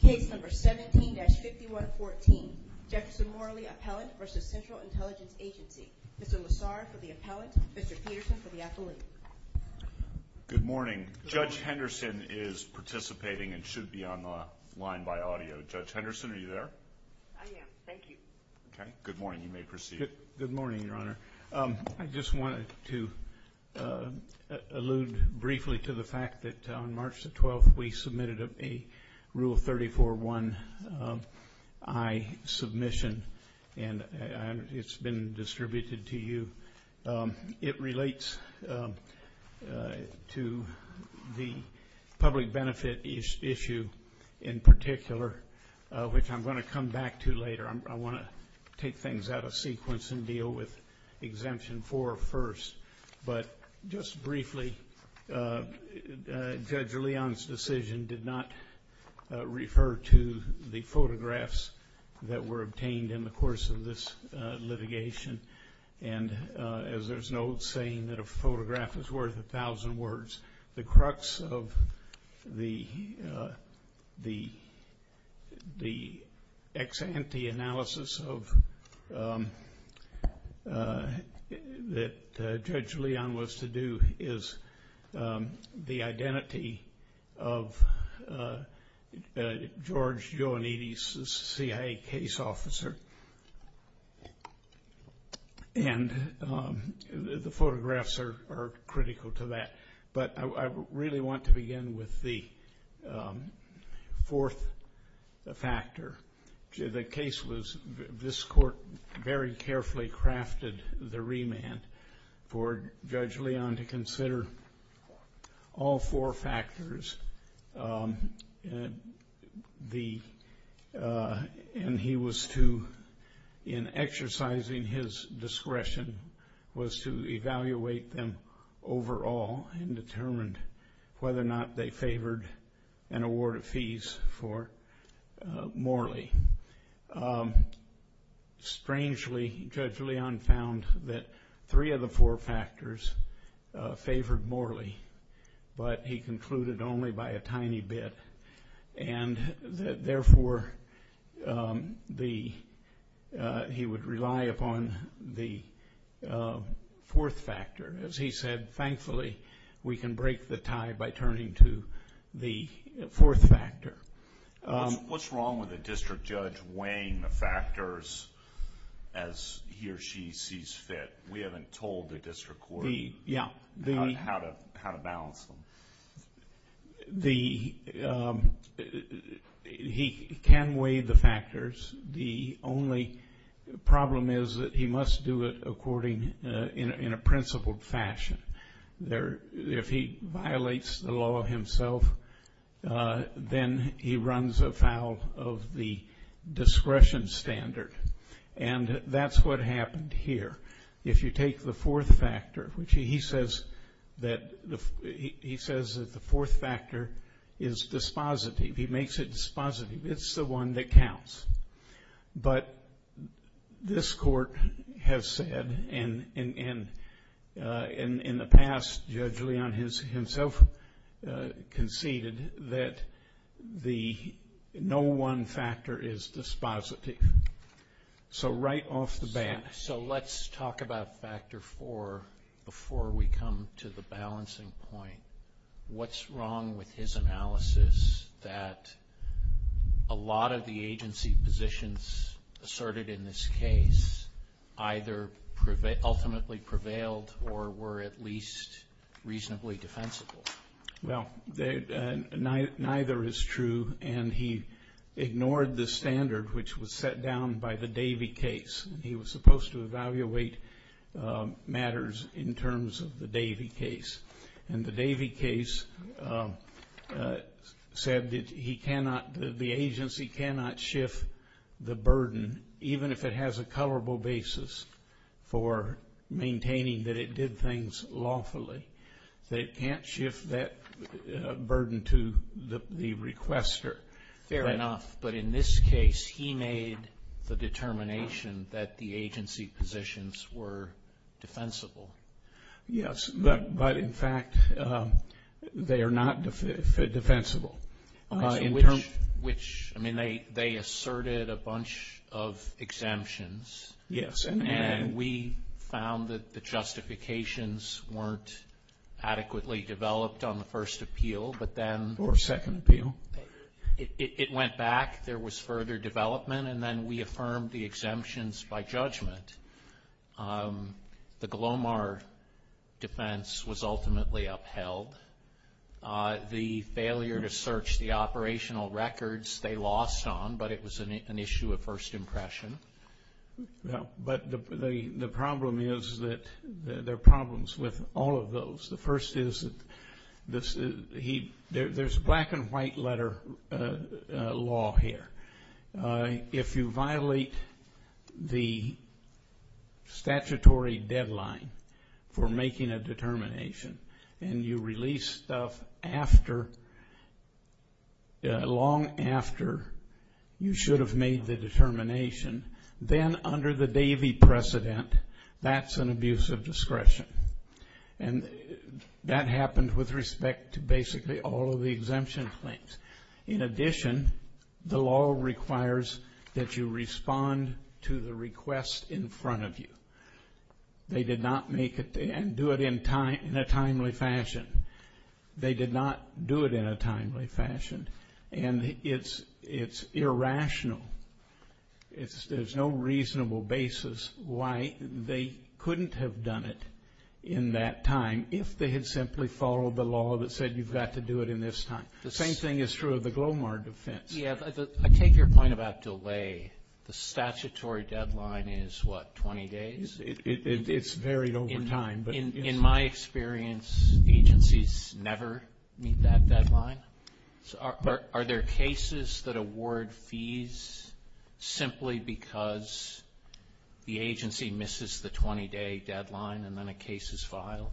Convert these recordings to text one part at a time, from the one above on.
Case number 17-5114. Jefferson Morley Appellant v. Central Intelligence Agency. Mr. Lessard for the Appellant. Mr. Peterson for the Athlete. Good morning. Judge Henderson is participating and should be on the line by audio. Judge Henderson, are you there? I am. Thank you. Okay. Good morning. You may proceed. Good morning, Your Honor. I just wanted to allude briefly to the fact that on March 12th we submitted a Rule 34-1I submission and it's been distributed to you. It relates to the public benefit issue in particular, which I'm going to come back to later. I want to take things out of sequence and deal with Exemption 4 first. But just briefly, Judge Leon's decision did not refer to the photographs that were obtained in the course of this litigation. As there's an old saying that a photograph is worth a thousand words, the crux of the ex-ante analysis that Judge Leon was to do is the identity of George Ioannidis' CIA case officer. And the photographs are critical to that. But I really want to begin with the fourth factor. The case was this Court very carefully crafted the remand for Judge Leon to consider all four factors. And he was to, in exercising his discretion, was to evaluate them overall and determine whether or not they favored an award of fees for Morley. Strangely, Judge Leon found that three of the four factors favored Morley, but he concluded only by a tiny bit. And therefore, he would rely upon the fourth factor. As he said, thankfully we can break the tie by turning to the fourth factor. What's wrong with a district judge weighing the factors as he or she sees fit? We haven't told the district court how to balance them. He can weigh the factors. The only problem is that he must do it according, in a principled fashion. If he violates the law himself, then he runs afoul of the discretion standard. And that's what happened here. If you take the fourth factor, he says that the fourth factor is dispositive. He makes it dispositive. It's the one that counts. But this Court has said, and in the past Judge Leon himself conceded, that the no one factor is dispositive. So right off the bat. So let's talk about factor four before we come to the balancing point. What's wrong with his analysis that a lot of the agency positions asserted in this case either ultimately prevailed or were at least reasonably defensible? Well, neither is true and he ignored the standard which was set down by the Davey case. He was supposed to evaluate matters in terms of the Davey case. And the Davey case said that the agency cannot shift the burden, even if it has a colorable basis, for maintaining that it did things lawfully. That it can't shift that burden to the requester. Fair enough. But in this case, he made the determination that the agency positions were defensible. Yes, but in fact, they are not defensible. Which, I mean, they asserted a bunch of exemptions. Yes. And we found that the justifications weren't adequately developed on the first appeal. Or second appeal. It went back. There was further development. And then we affirmed the exemptions by judgment. The Glomar defense was ultimately upheld. The failure to search the operational records they lost on, but it was an issue of first impression. But the problem is that there are problems with all of those. The first is that there's black and white letter law here. If you violate the statutory deadline for making a determination and you release stuff long after you should have made the determination, then under the Davey precedent, that's an abuse of discretion. And that happened with respect to basically all of the exemption claims. In addition, the law requires that you respond to the request in front of you. They did not make it and do it in a timely fashion. They did not do it in a timely fashion. And it's irrational. There's no reasonable basis why they couldn't have done it in that time if they had simply followed the law that said you've got to do it in this time. The same thing is true of the Glomar defense. I take your point about delay. The statutory deadline is, what, 20 days? It's varied over time. In my experience, agencies never meet that deadline. Are there cases that award fees simply because the agency misses the 20-day deadline and then a case is filed?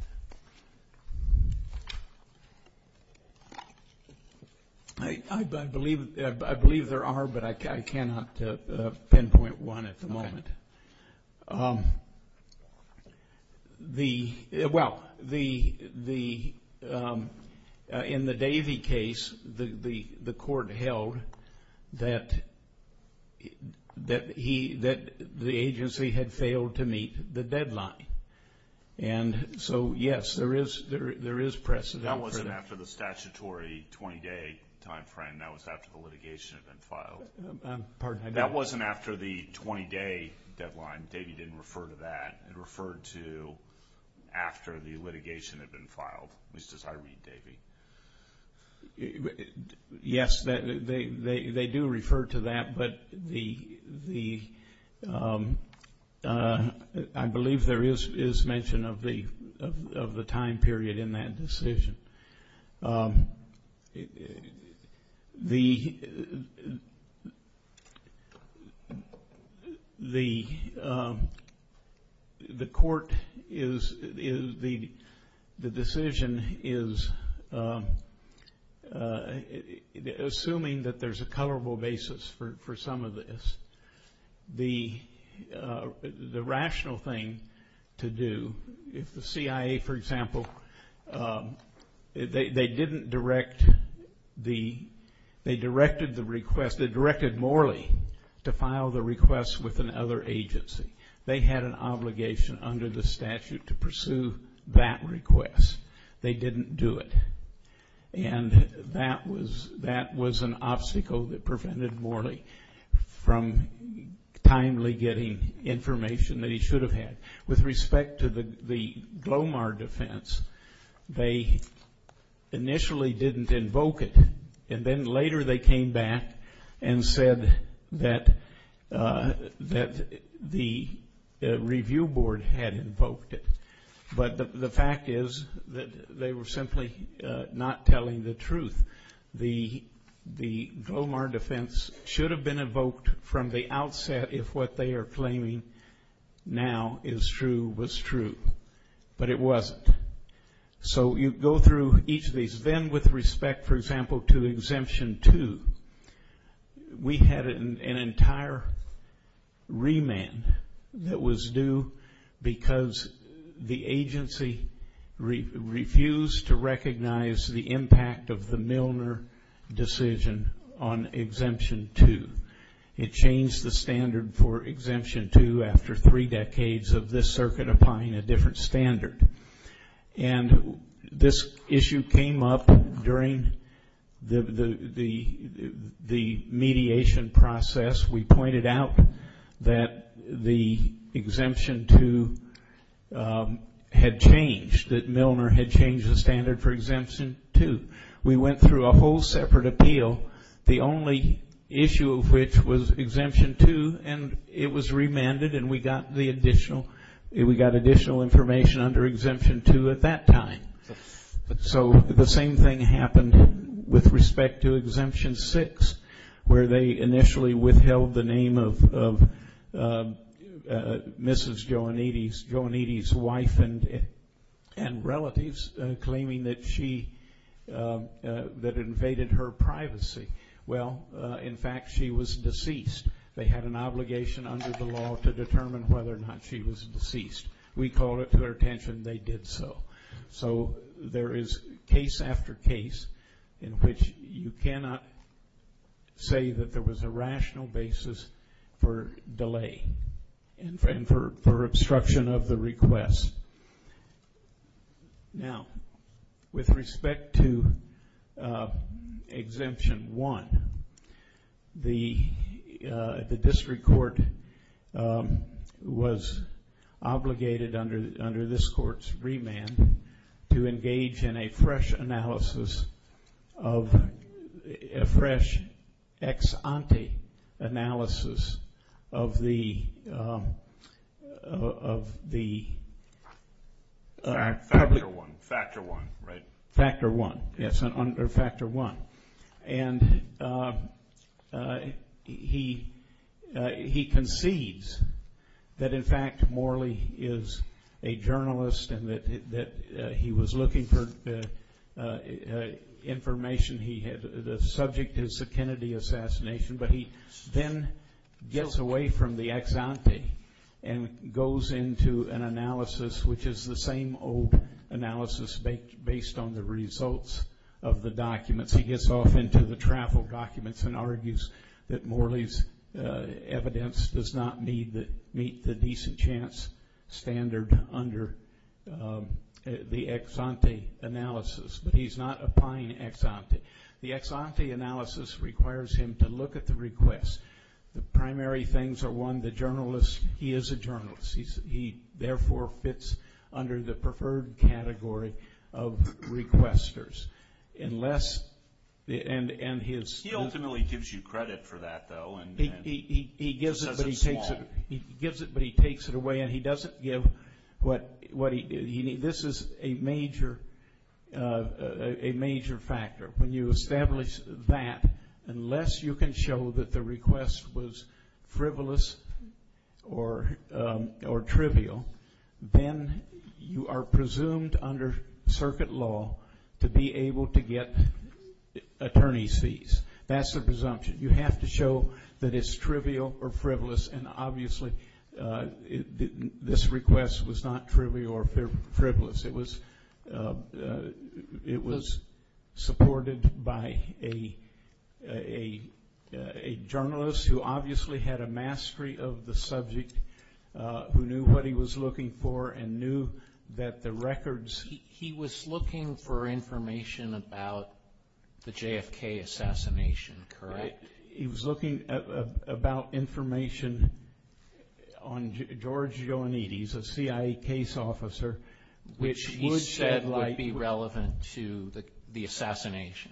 I believe there are, but I cannot pinpoint one at the moment. Well, in the Davey case, the court held that the agency had failed to meet the deadline. And so, yes, there is precedent for that. That wasn't after the statutory 20-day time frame. That was after the litigation had been filed. Pardon? That wasn't after the 20-day deadline. Davey didn't refer to that. It referred to after the litigation had been filed, at least as I read Davey. Yes, they do refer to that, but I believe there is mention of the time period in that decision. The court is, the decision is, assuming that there's a colorable basis for some of this, the rational thing to do, if the CIA, for example, they didn't direct the, they directed the request, they directed Morley to file the request with another agency. They had an obligation under the statute to pursue that request. They didn't do it. And that was an obstacle that prevented Morley from timely getting information that he should have had. With respect to the Glomar defense, they initially didn't invoke it, and then later they came back and said that the review board had invoked it. But the fact is that they were simply not telling the truth. The Glomar defense should have been invoked from the outset if what they are claiming now is true was true. But it wasn't. So you go through each of these. Then with respect, for example, to Exemption 2, we had an entire remand that was due because the agency refused to recognize the impact of the Milner decision on Exemption 2. It changed the standard for Exemption 2 after three decades of this circuit applying a different standard. And this issue came up during the mediation process. We pointed out that the Exemption 2 had changed, that Milner had changed the standard for Exemption 2. We went through a whole separate appeal, the only issue of which was Exemption 2, and it was remanded and we got additional information under Exemption 2 at that time. So the same thing happened with respect to Exemption 6, where they initially withheld the name of Mrs. Joannides, Joannides' wife and relatives, claiming that she invaded her privacy. Well, in fact, she was deceased. They had an obligation under the law to determine whether or not she was deceased. We called it to their attention they did so. So there is case after case in which you cannot say that there was a rational basis for delay and for obstruction of the request. Now, with respect to Exemption 1, the district court was obligated under this court's remand to engage in a fresh analysis of, a fresh ex-ante analysis of the public. Factor 1, right. Factor 1, yes, under Factor 1. And he concedes that, in fact, Morley is a journalist and that he was looking for information. The subject is the Kennedy assassination. But he then gets away from the ex-ante and goes into an analysis, which is the same old analysis based on the results of the documents. He gets off into the travel documents and argues that Morley's evidence does not meet the decent chance standard under the ex-ante analysis. But he's not applying ex-ante. The ex-ante analysis requires him to look at the request. The primary things are, one, the journalist, he is a journalist. He, therefore, fits under the preferred category of requesters. He ultimately gives you credit for that, though. He gives it, but he takes it away, and he doesn't give what he needs. This is a major factor. When you establish that, unless you can show that the request was frivolous or trivial, then you are presumed under circuit law to be able to get attorney's fees. That's the presumption. You have to show that it's trivial or frivolous, and obviously this request was not trivial or frivolous. It was supported by a journalist who obviously had a mastery of the subject, who knew what he was looking for and knew that the records. He was looking for information about the JFK assassination, correct? He was looking about information on George Ioannidis, a CIA case officer. Which he said would be relevant to the assassination.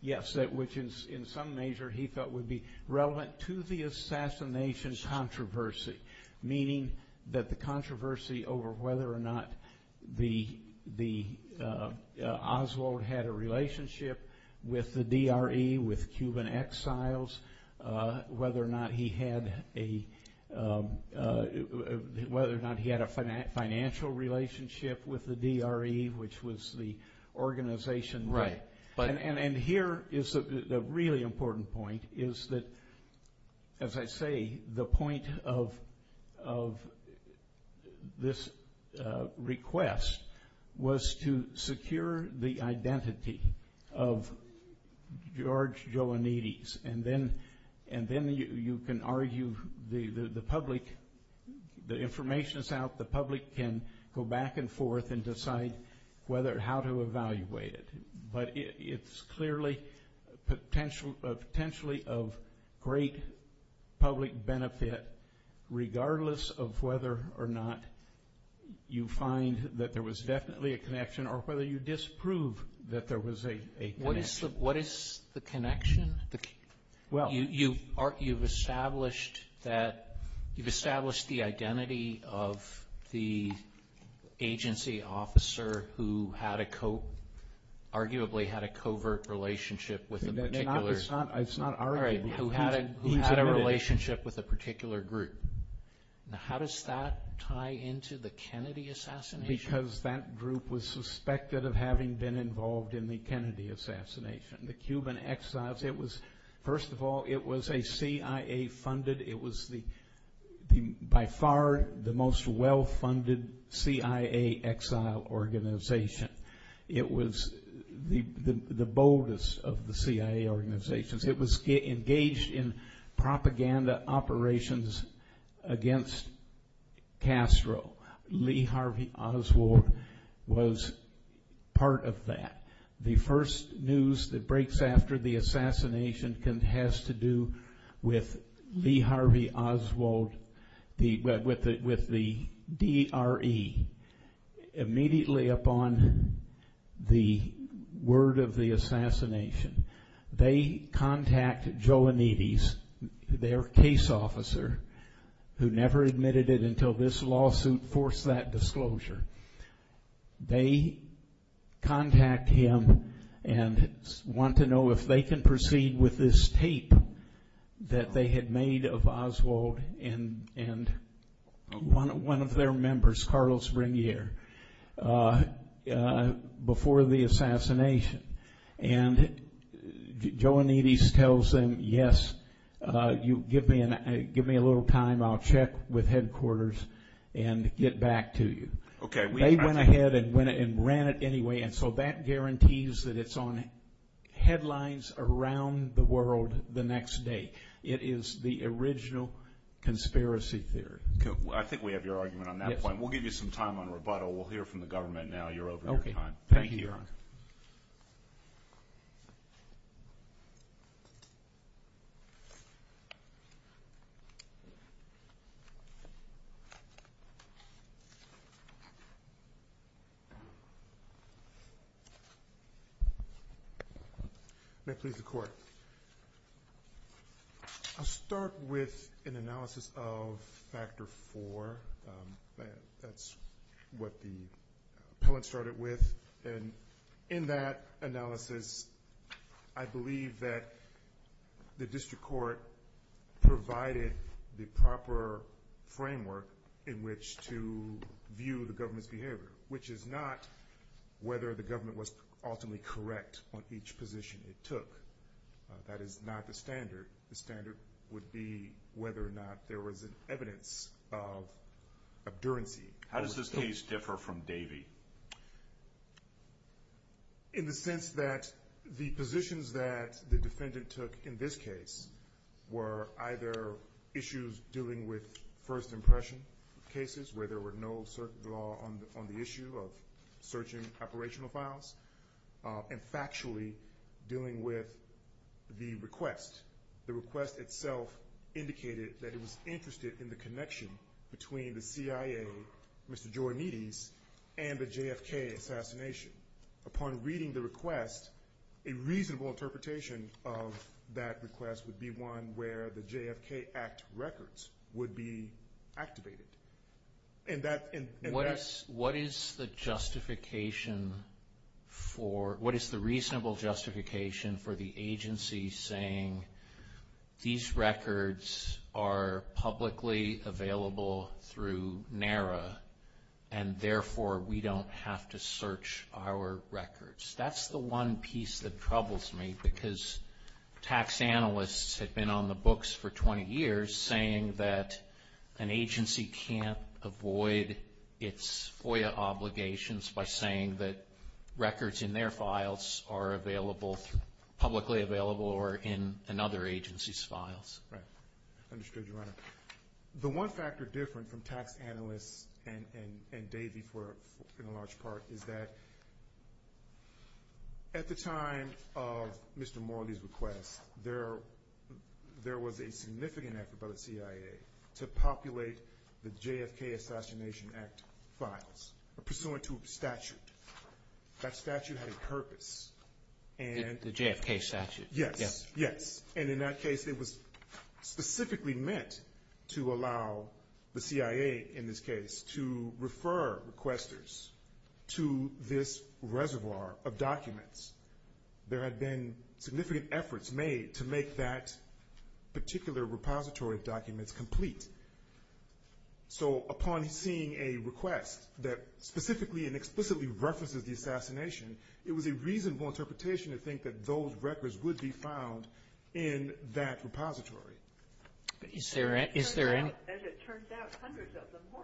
Yes, which in some measure he felt would be relevant to the assassination controversy, meaning that the controversy over whether or not Oswald had a relationship with the DRE, with Cuban exiles, whether or not he had a financial relationship with the DRE, which was the organization. Right. Here is a really important point, is that, as I say, the point of this request was to secure the identity of George Ioannidis. Then you can argue the public, the information is out, the public can go back and forth and decide how to evaluate it. But it's clearly potentially of great public benefit, regardless of whether or not you find that there was definitely a connection or whether you disprove that there was a connection. What is the connection? You've established the identity of the agency officer who arguably had a covert relationship with a particular group. How does that tie into the Kennedy assassination? Because that group was suspected of having been involved in the Kennedy assassination. The Cuban exiles, it was, first of all, it was a CIA-funded, it was by far the most well-funded CIA exile organization. It was the boldest of the CIA organizations. It was engaged in propaganda operations against Castro. Lee Harvey Oswald was part of that. The first news that breaks after the assassination has to do with Lee Harvey Oswald, with the DRE. Immediately upon the word of the assassination, they contact Ioannidis, their case officer, who never admitted it until this lawsuit forced that disclosure. They contact him and want to know if they can proceed with this tape that they had made of Oswald and one of their members, Carlos Regnier, before the assassination. And Ioannidis tells them, yes, give me a little time. I'll check with headquarters and get back to you. They went ahead and ran it anyway, and so that guarantees that it's on headlines around the world the next day. It is the original conspiracy theory. I think we have your argument on that point. We'll give you some time on rebuttal. We'll hear from the government now. You're over your time. Thank you, Your Honor. May it please the Court. I'll start with an analysis of Factor IV. That's what the appellant started with. And in that analysis, I believe that the district court provided the proper framework in which to view the government's behavior, which is not whether the government was ultimately correct on each position it took. That is not the standard. The standard would be whether or not there was an evidence of abdurancy. How does this case differ from Davey? In the sense that the positions that the defendant took in this case were either issues dealing with first impression cases, where there were no law on the issue of searching operational files, and factually dealing with the request. The request itself indicated that it was interested in the connection between the CIA, Mr. Giornides, and the JFK assassination. Upon reading the request, a reasonable interpretation of that request would be one where the JFK Act records would be activated. What is the justification for, what is the reasonable justification for the agency saying, these records are publicly available through NARA, and therefore we don't have to search our records? That's the one piece that troubles me, because tax analysts have been on the books for 20 years saying that an agency can't avoid its FOIA obligations by saying that records in their files are available, publicly available, or in another agency's files. Right. Understood, Your Honor. The one factor different from tax analysts and Davey, for the large part, is that at the time of Mr. Morley's request, there was a significant effort by the CIA to populate the JFK Assassination Act files, pursuant to a statute. That statute had a purpose. The JFK statute. Yes, yes. And in that case, it was specifically meant to allow the CIA, in this case, to refer requesters to this reservoir of documents. There had been significant efforts made to make that particular repository of documents complete. So upon seeing a request that specifically and explicitly references the assassination, it was a reasonable interpretation to think that those records would be found in that repository. Is there any? As it turns out, hundreds of them were.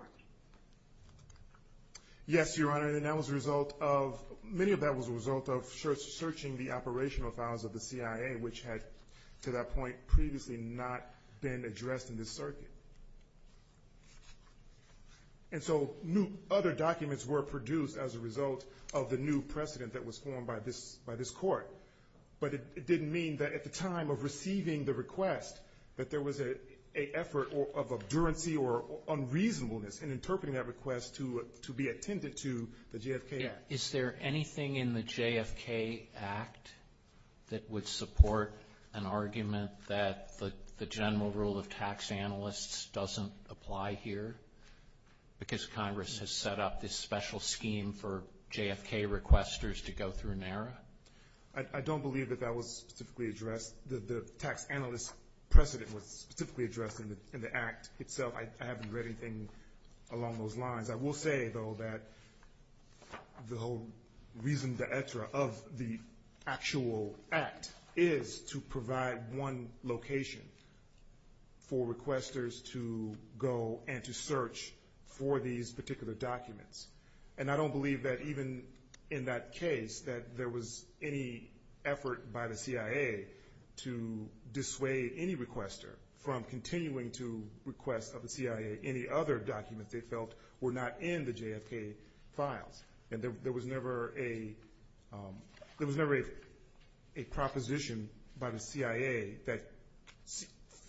Yes, Your Honor. And that was a result of, many of that was a result of searching the operational files of the CIA, which had to that point previously not been addressed in this circuit. And so other documents were produced as a result of the new precedent that was formed by this court. But it didn't mean that at the time of receiving the request, that there was an effort of abdurancy or unreasonableness in interpreting that request to be attended to the JFK Act. Is there anything in the JFK Act that would support an argument that the general rule of tax analysts doesn't apply here because Congress has set up this special scheme for JFK requesters to go through NARA? I don't believe that that was specifically addressed. The tax analyst precedent was specifically addressed in the Act itself. I haven't read anything along those lines. I will say, though, that the whole reason of the actual Act is to provide one location for requesters to go and to search for these particular documents. And I don't believe that even in that case that there was any effort by the CIA to dissuade any requester from continuing to request of the CIA any other documents they felt were not in the JFK files. And there was never a proposition by the CIA that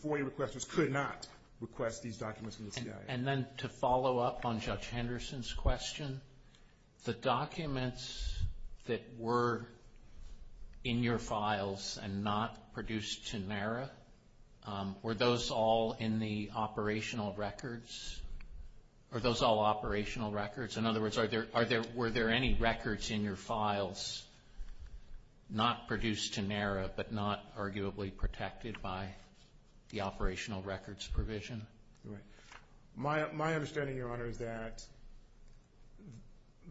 FOIA requesters could not request these documents from the CIA. And then to follow up on Judge Henderson's question, the documents that were in your files and not produced to NARA, were those all in the operational records? Are those all operational records? In other words, were there any records in your files not produced to NARA but not arguably protected by the operational records provision? My understanding, Your Honor, is that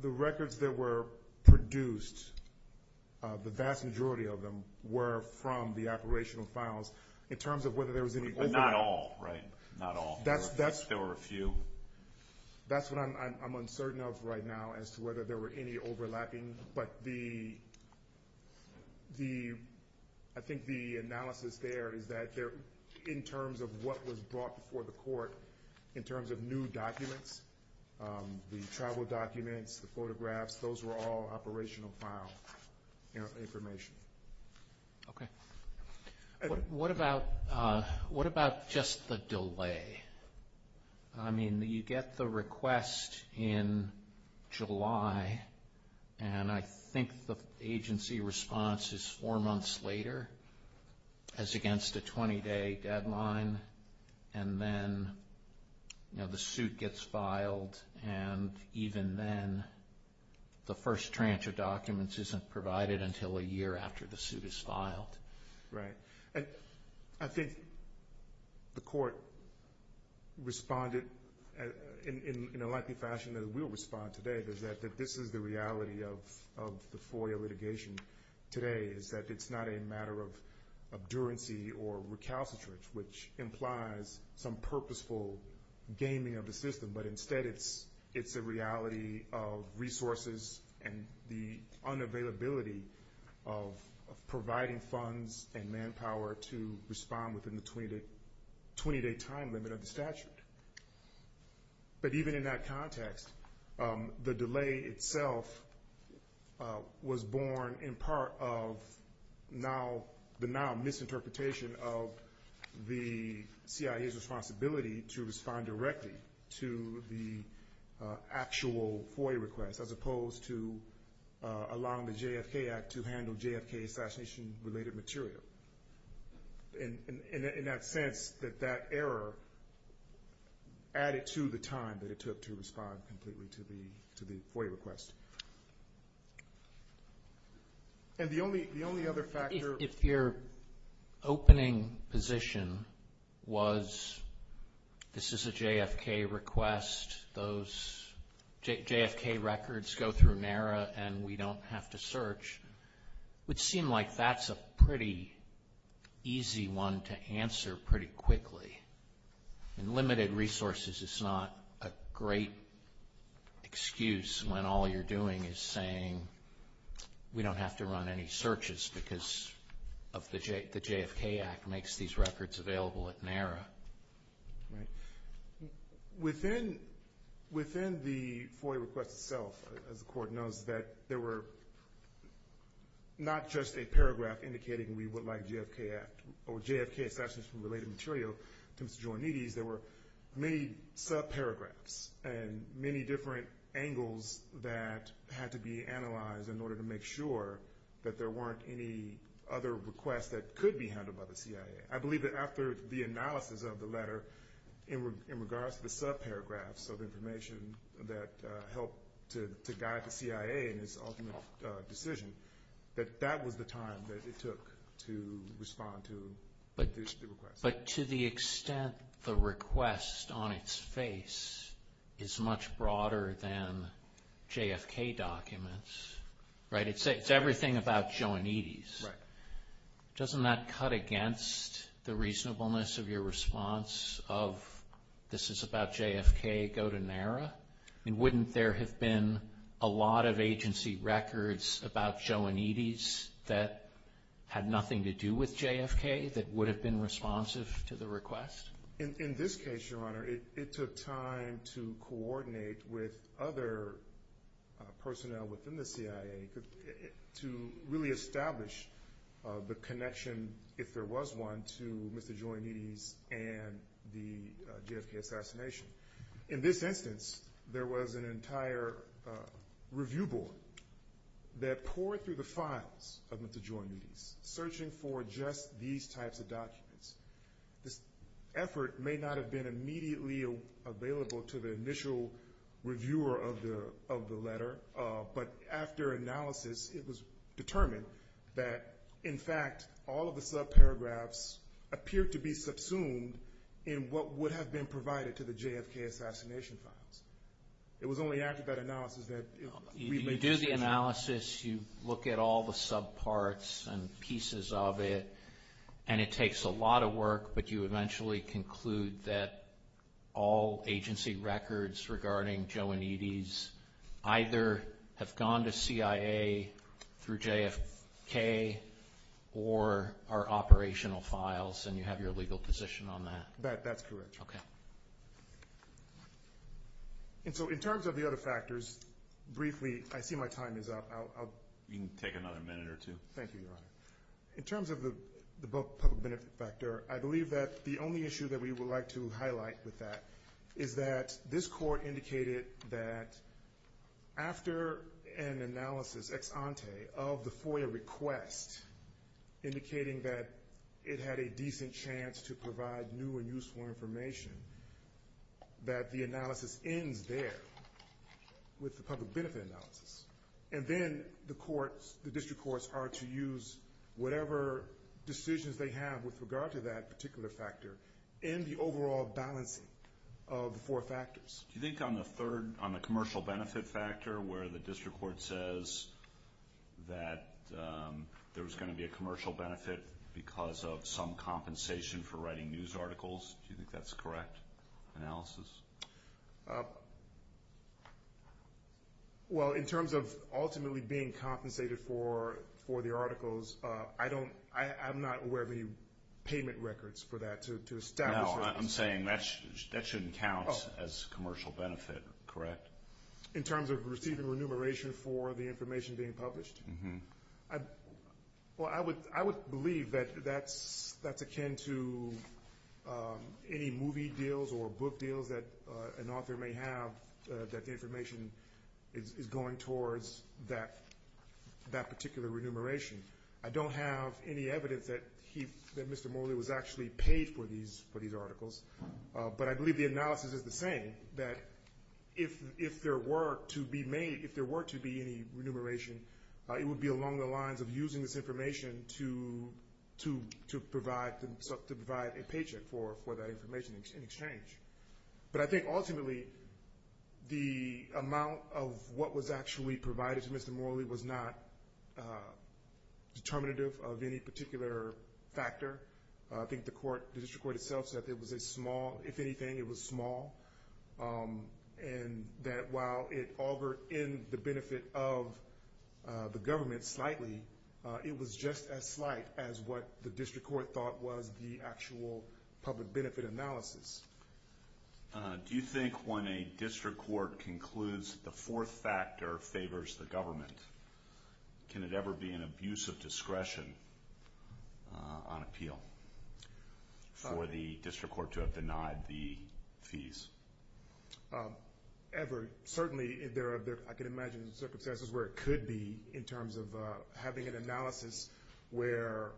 the records that were produced, the vast majority of them were from the operational files. In terms of whether there was any overlap. But not all, right? Not all. There were a few. That's what I'm uncertain of right now as to whether there were any overlapping. But I think the analysis there is that in terms of what was brought before the court, in terms of new documents, the travel documents, the photographs, those were all operational file information. Okay. What about just the delay? I mean, you get the request in July. And I think the agency response is four months later as against a 20-day deadline. And then the suit gets filed. And even then, the first tranche of documents isn't provided until a year after the suit is filed. Right. And I think the court responded in a likely fashion that it will respond today, is that this is the reality of the FOIA litigation today, is that it's not a matter of obduracy or recalcitrance, which implies some purposeful gaming of the system. But instead, it's a reality of resources and the unavailability of providing funds and manpower to respond within the 20-day time limit of the statute. But even in that context, the delay itself was born in part of the now misinterpretation of the CIA's responsibility to respond directly to the actual FOIA request, as opposed to allowing the JFK Act to handle JFK assassination-related material. In that sense, that that error added to the time that it took to respond completely to the FOIA request. And the only other factor... If your opening position was, this is a JFK request, those JFK records go through NARA and we don't have to search, it would seem like that's a pretty easy one to answer pretty quickly. And limited resources is not a great excuse when all you're doing is saying, we don't have to run any searches because the JFK Act makes these records available at NARA. Within the FOIA request itself, as the Court knows, that there were not just a paragraph indicating we would like JFK or JFK assassinations-related material. There were many sub-paragraphs and many different angles that had to be analyzed in order to make sure that there weren't any other requests that could be handled by the CIA. I believe that after the analysis of the letter, in regards to the sub-paragraphs of information that helped to guide the CIA in its ultimate decision, that that was the time that it took to respond to the request. But to the extent the request on its face is much broader than JFK documents, it's everything about Joe and Edie's, Doesn't that cut against the reasonableness of your response of, this is about JFK, go to NARA? Wouldn't there have been a lot of agency records about Joe and Edie's that had nothing to do with JFK that would have been responsive to the request? In this case, Your Honor, it took time to coordinate with other personnel within the CIA to really establish the connection, if there was one, to Mr. Joe and Edie's and the JFK assassination. In this instance, there was an entire review board that poured through the files of Mr. Joe and Edie's, searching for just these types of documents. This effort may not have been immediately available to the initial reviewer of the letter, but after analysis, it was determined that, in fact, all of the subparagraphs appeared to be subsumed in what would have been provided to the JFK assassination files. It was only after that analysis that we made the decision. You do the analysis, you look at all the subparts and pieces of it, and it takes a lot of work, but you eventually conclude that all agency records regarding Joe and Edie's either have gone to CIA through JFK or are operational files, and you have your legal position on that. That's correct. In terms of the other factors, briefly, I see my time is up. You can take another minute or two. Thank you, Your Honor. In terms of the public benefit factor, I believe that the only issue that we would like to highlight with that is that this court indicated that after an analysis ex ante of the FOIA request, indicating that it had a decent chance to provide new and useful information, that the analysis ends there with the public benefit analysis. And then the district courts are to use whatever decisions they have with regard to that particular factor in the overall balance of the four factors. Do you think on the commercial benefit factor where the district court says that there's going to be a commercial benefit because of some compensation for writing news articles, do you think that's correct analysis? Well, in terms of ultimately being compensated for the articles, I'm not aware of any payment records for that to establish that. No, I'm saying that shouldn't count as commercial benefit, correct? In terms of receiving remuneration for the information being published? Well, I would believe that that's akin to any movie deals or book deals that an author may have that the information is going towards that particular remuneration. I don't have any evidence that Mr. Morley was actually paid for these articles, but I believe the analysis is the same, that if there were to be any remuneration, it would be along the lines of using this information to provide a paycheck for that information in exchange. But I think ultimately the amount of what was actually provided to Mr. Morley was not determinative of any particular factor. I think the court, the district court itself said it was a small, if anything, it was small, and that while it augured in the benefit of the government slightly, it was just as slight as what the district court thought was the actual public benefit analysis. Do you think when a district court concludes the fourth factor favors the government, can it ever be an abuse of discretion on appeal for the district court to have denied the fees? Ever. Certainly, I can imagine circumstances where it could be in terms of having an analysis where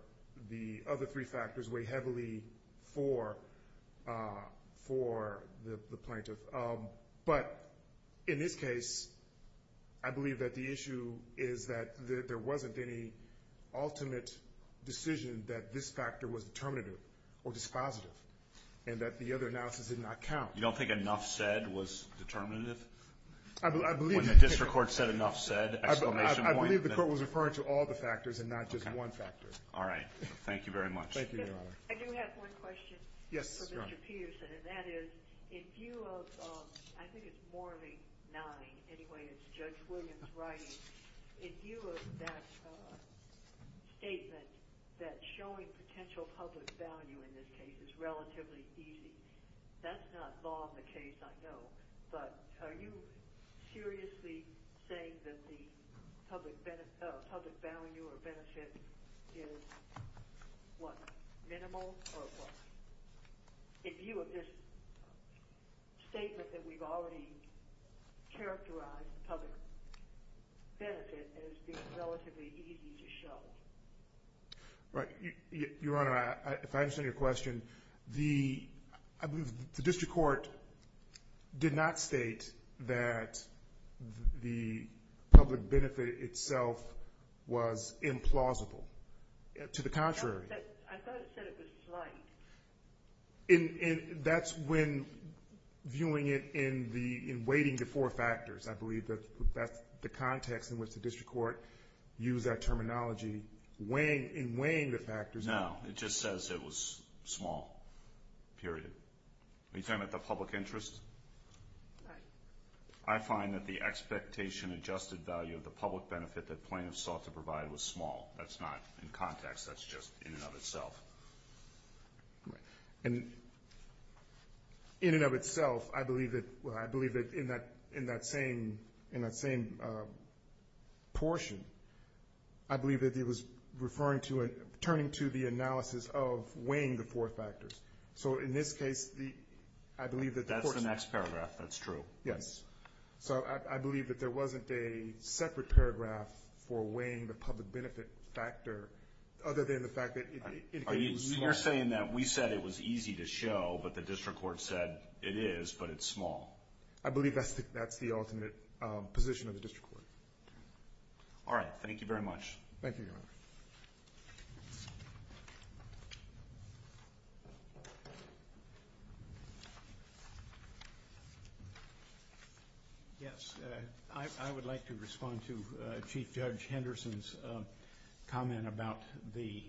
the other three factors weigh heavily for the plaintiff. But in this case, I believe that the issue is that there wasn't any ultimate decision that this factor was determinative or dispositive and that the other analysis did not count. You don't think enough said was determinative? When the district court said enough said, exclamation point? I believe the court was referring to all the factors and not just one factor. Thank you very much. Thank you, Your Honor. I do have one question for Mr. Peterson, and that is, in view of, I think it's more of a nine. Anyway, it's Judge Williams' writing. In view of that statement that showing potential public value in this case is relatively easy, that's not law in the case, I know, but are you seriously saying that the public value or benefit is, what, minimal or what? In view of this statement that we've already characterized public benefit as being relatively easy to show. Right. Your Honor, if I understand your question, the district court did not state that the public benefit itself was implausible. To the contrary. I thought it said it was slight. That's when viewing it in weighting the four factors. I believe that's the context in which the district court used that terminology in weighing the factors. No, it just says it was small, period. Are you talking about the public interest? Right. I find that the expectation adjusted value of the public benefit that plaintiffs sought to provide was small. That's not in context. That's just in and of itself. Right. And in and of itself, I believe that in that same portion, I believe that it was referring to and turning to the analysis of weighing the four factors. So in this case, I believe that the court. That's the next paragraph. That's true. Yes. So I believe that there wasn't a separate paragraph for weighing the public benefit factor, other than the fact that it indicated it was small. You're saying that we said it was easy to show, but the district court said it is, but it's small. I believe that's the ultimate position of the district court. All right. Thank you, Your Honor. Yes. I would like to respond to Chief Judge Henderson's comment about the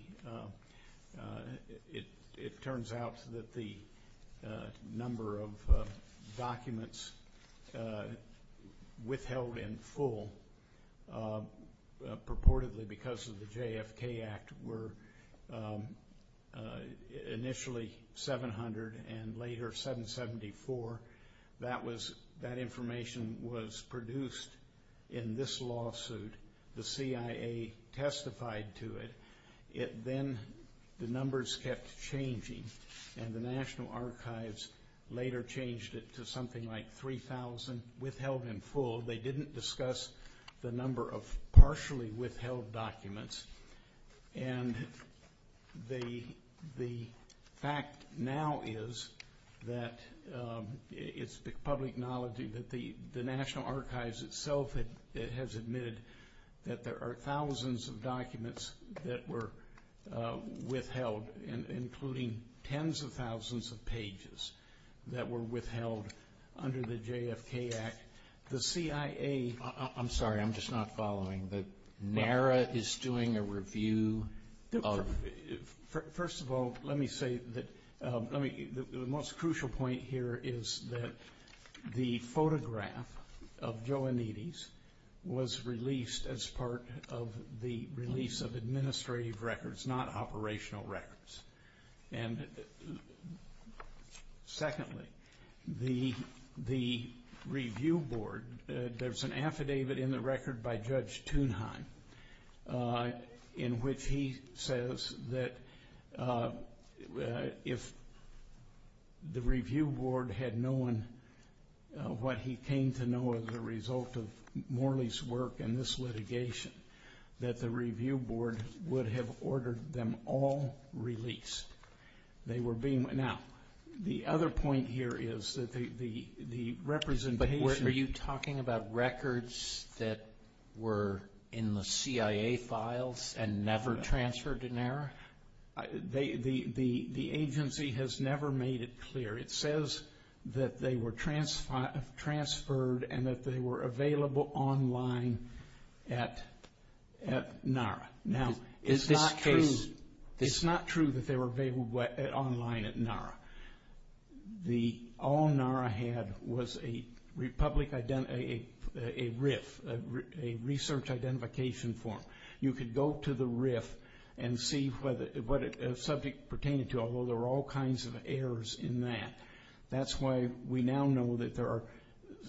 ‑‑ it turns out that the number of documents withheld in full purportedly because of the JFK Act were initially 700 and later 774. That information was produced in this lawsuit. The CIA testified to it. Then the numbers kept changing, and the National Archives later changed it to something like 3,000 withheld in full. They didn't discuss the number of partially withheld documents. And the fact now is that it's public knowledge that the National Archives itself has admitted that there are thousands of documents that were withheld, including tens of thousands of pages that were withheld under the JFK Act. The CIA ‑‑ I'm sorry. I'm just not following. NARA is doing a review of ‑‑ First of all, let me say that the most crucial point here is that the photograph of Joe Anides was released as part of the release of administrative records, not operational records. And secondly, the review board, there's an affidavit in the record by Judge Thunheim in which he says that if the review board had known what he came to know as a result of Morley's work in this litigation, that the review board would have ordered them all released. Now, the other point here is that the representation ‑‑ But are you talking about records that were in the CIA files and never transferred to NARA? The agency has never made it clear. It says that they were transferred and that they were available online at NARA. Now, it's not true that they were available online at NARA. All NARA had was a RIF, a research identification form. You could go to the RIF and see what the subject pertained to, although there are all kinds of errors in that. That's why we now know that there are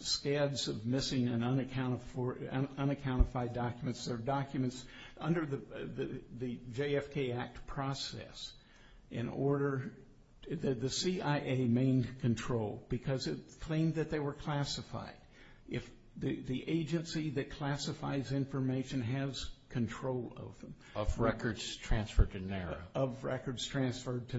scabs of missing and unaccounted for, unaccounted for documents. There are documents under the JFK Act process in order, the CIA main control, because it claimed that they were classified. The agency that classifies information has control of them. Of records transferred to NARA? Of records transferred to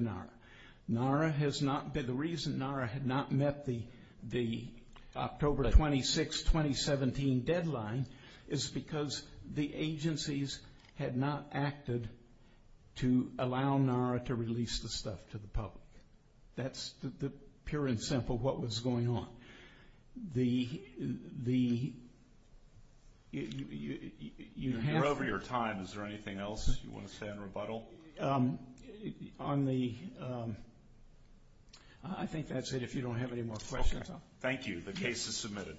NARA. The reason NARA had not met the October 26, 2017 deadline is because the agencies had not acted to allow NARA to release the stuff to the public. That's the pure and simple what was going on. You're over your time. Is there anything else you want to say in rebuttal? I think that's it if you don't have any more questions. Thank you. The case is submitted.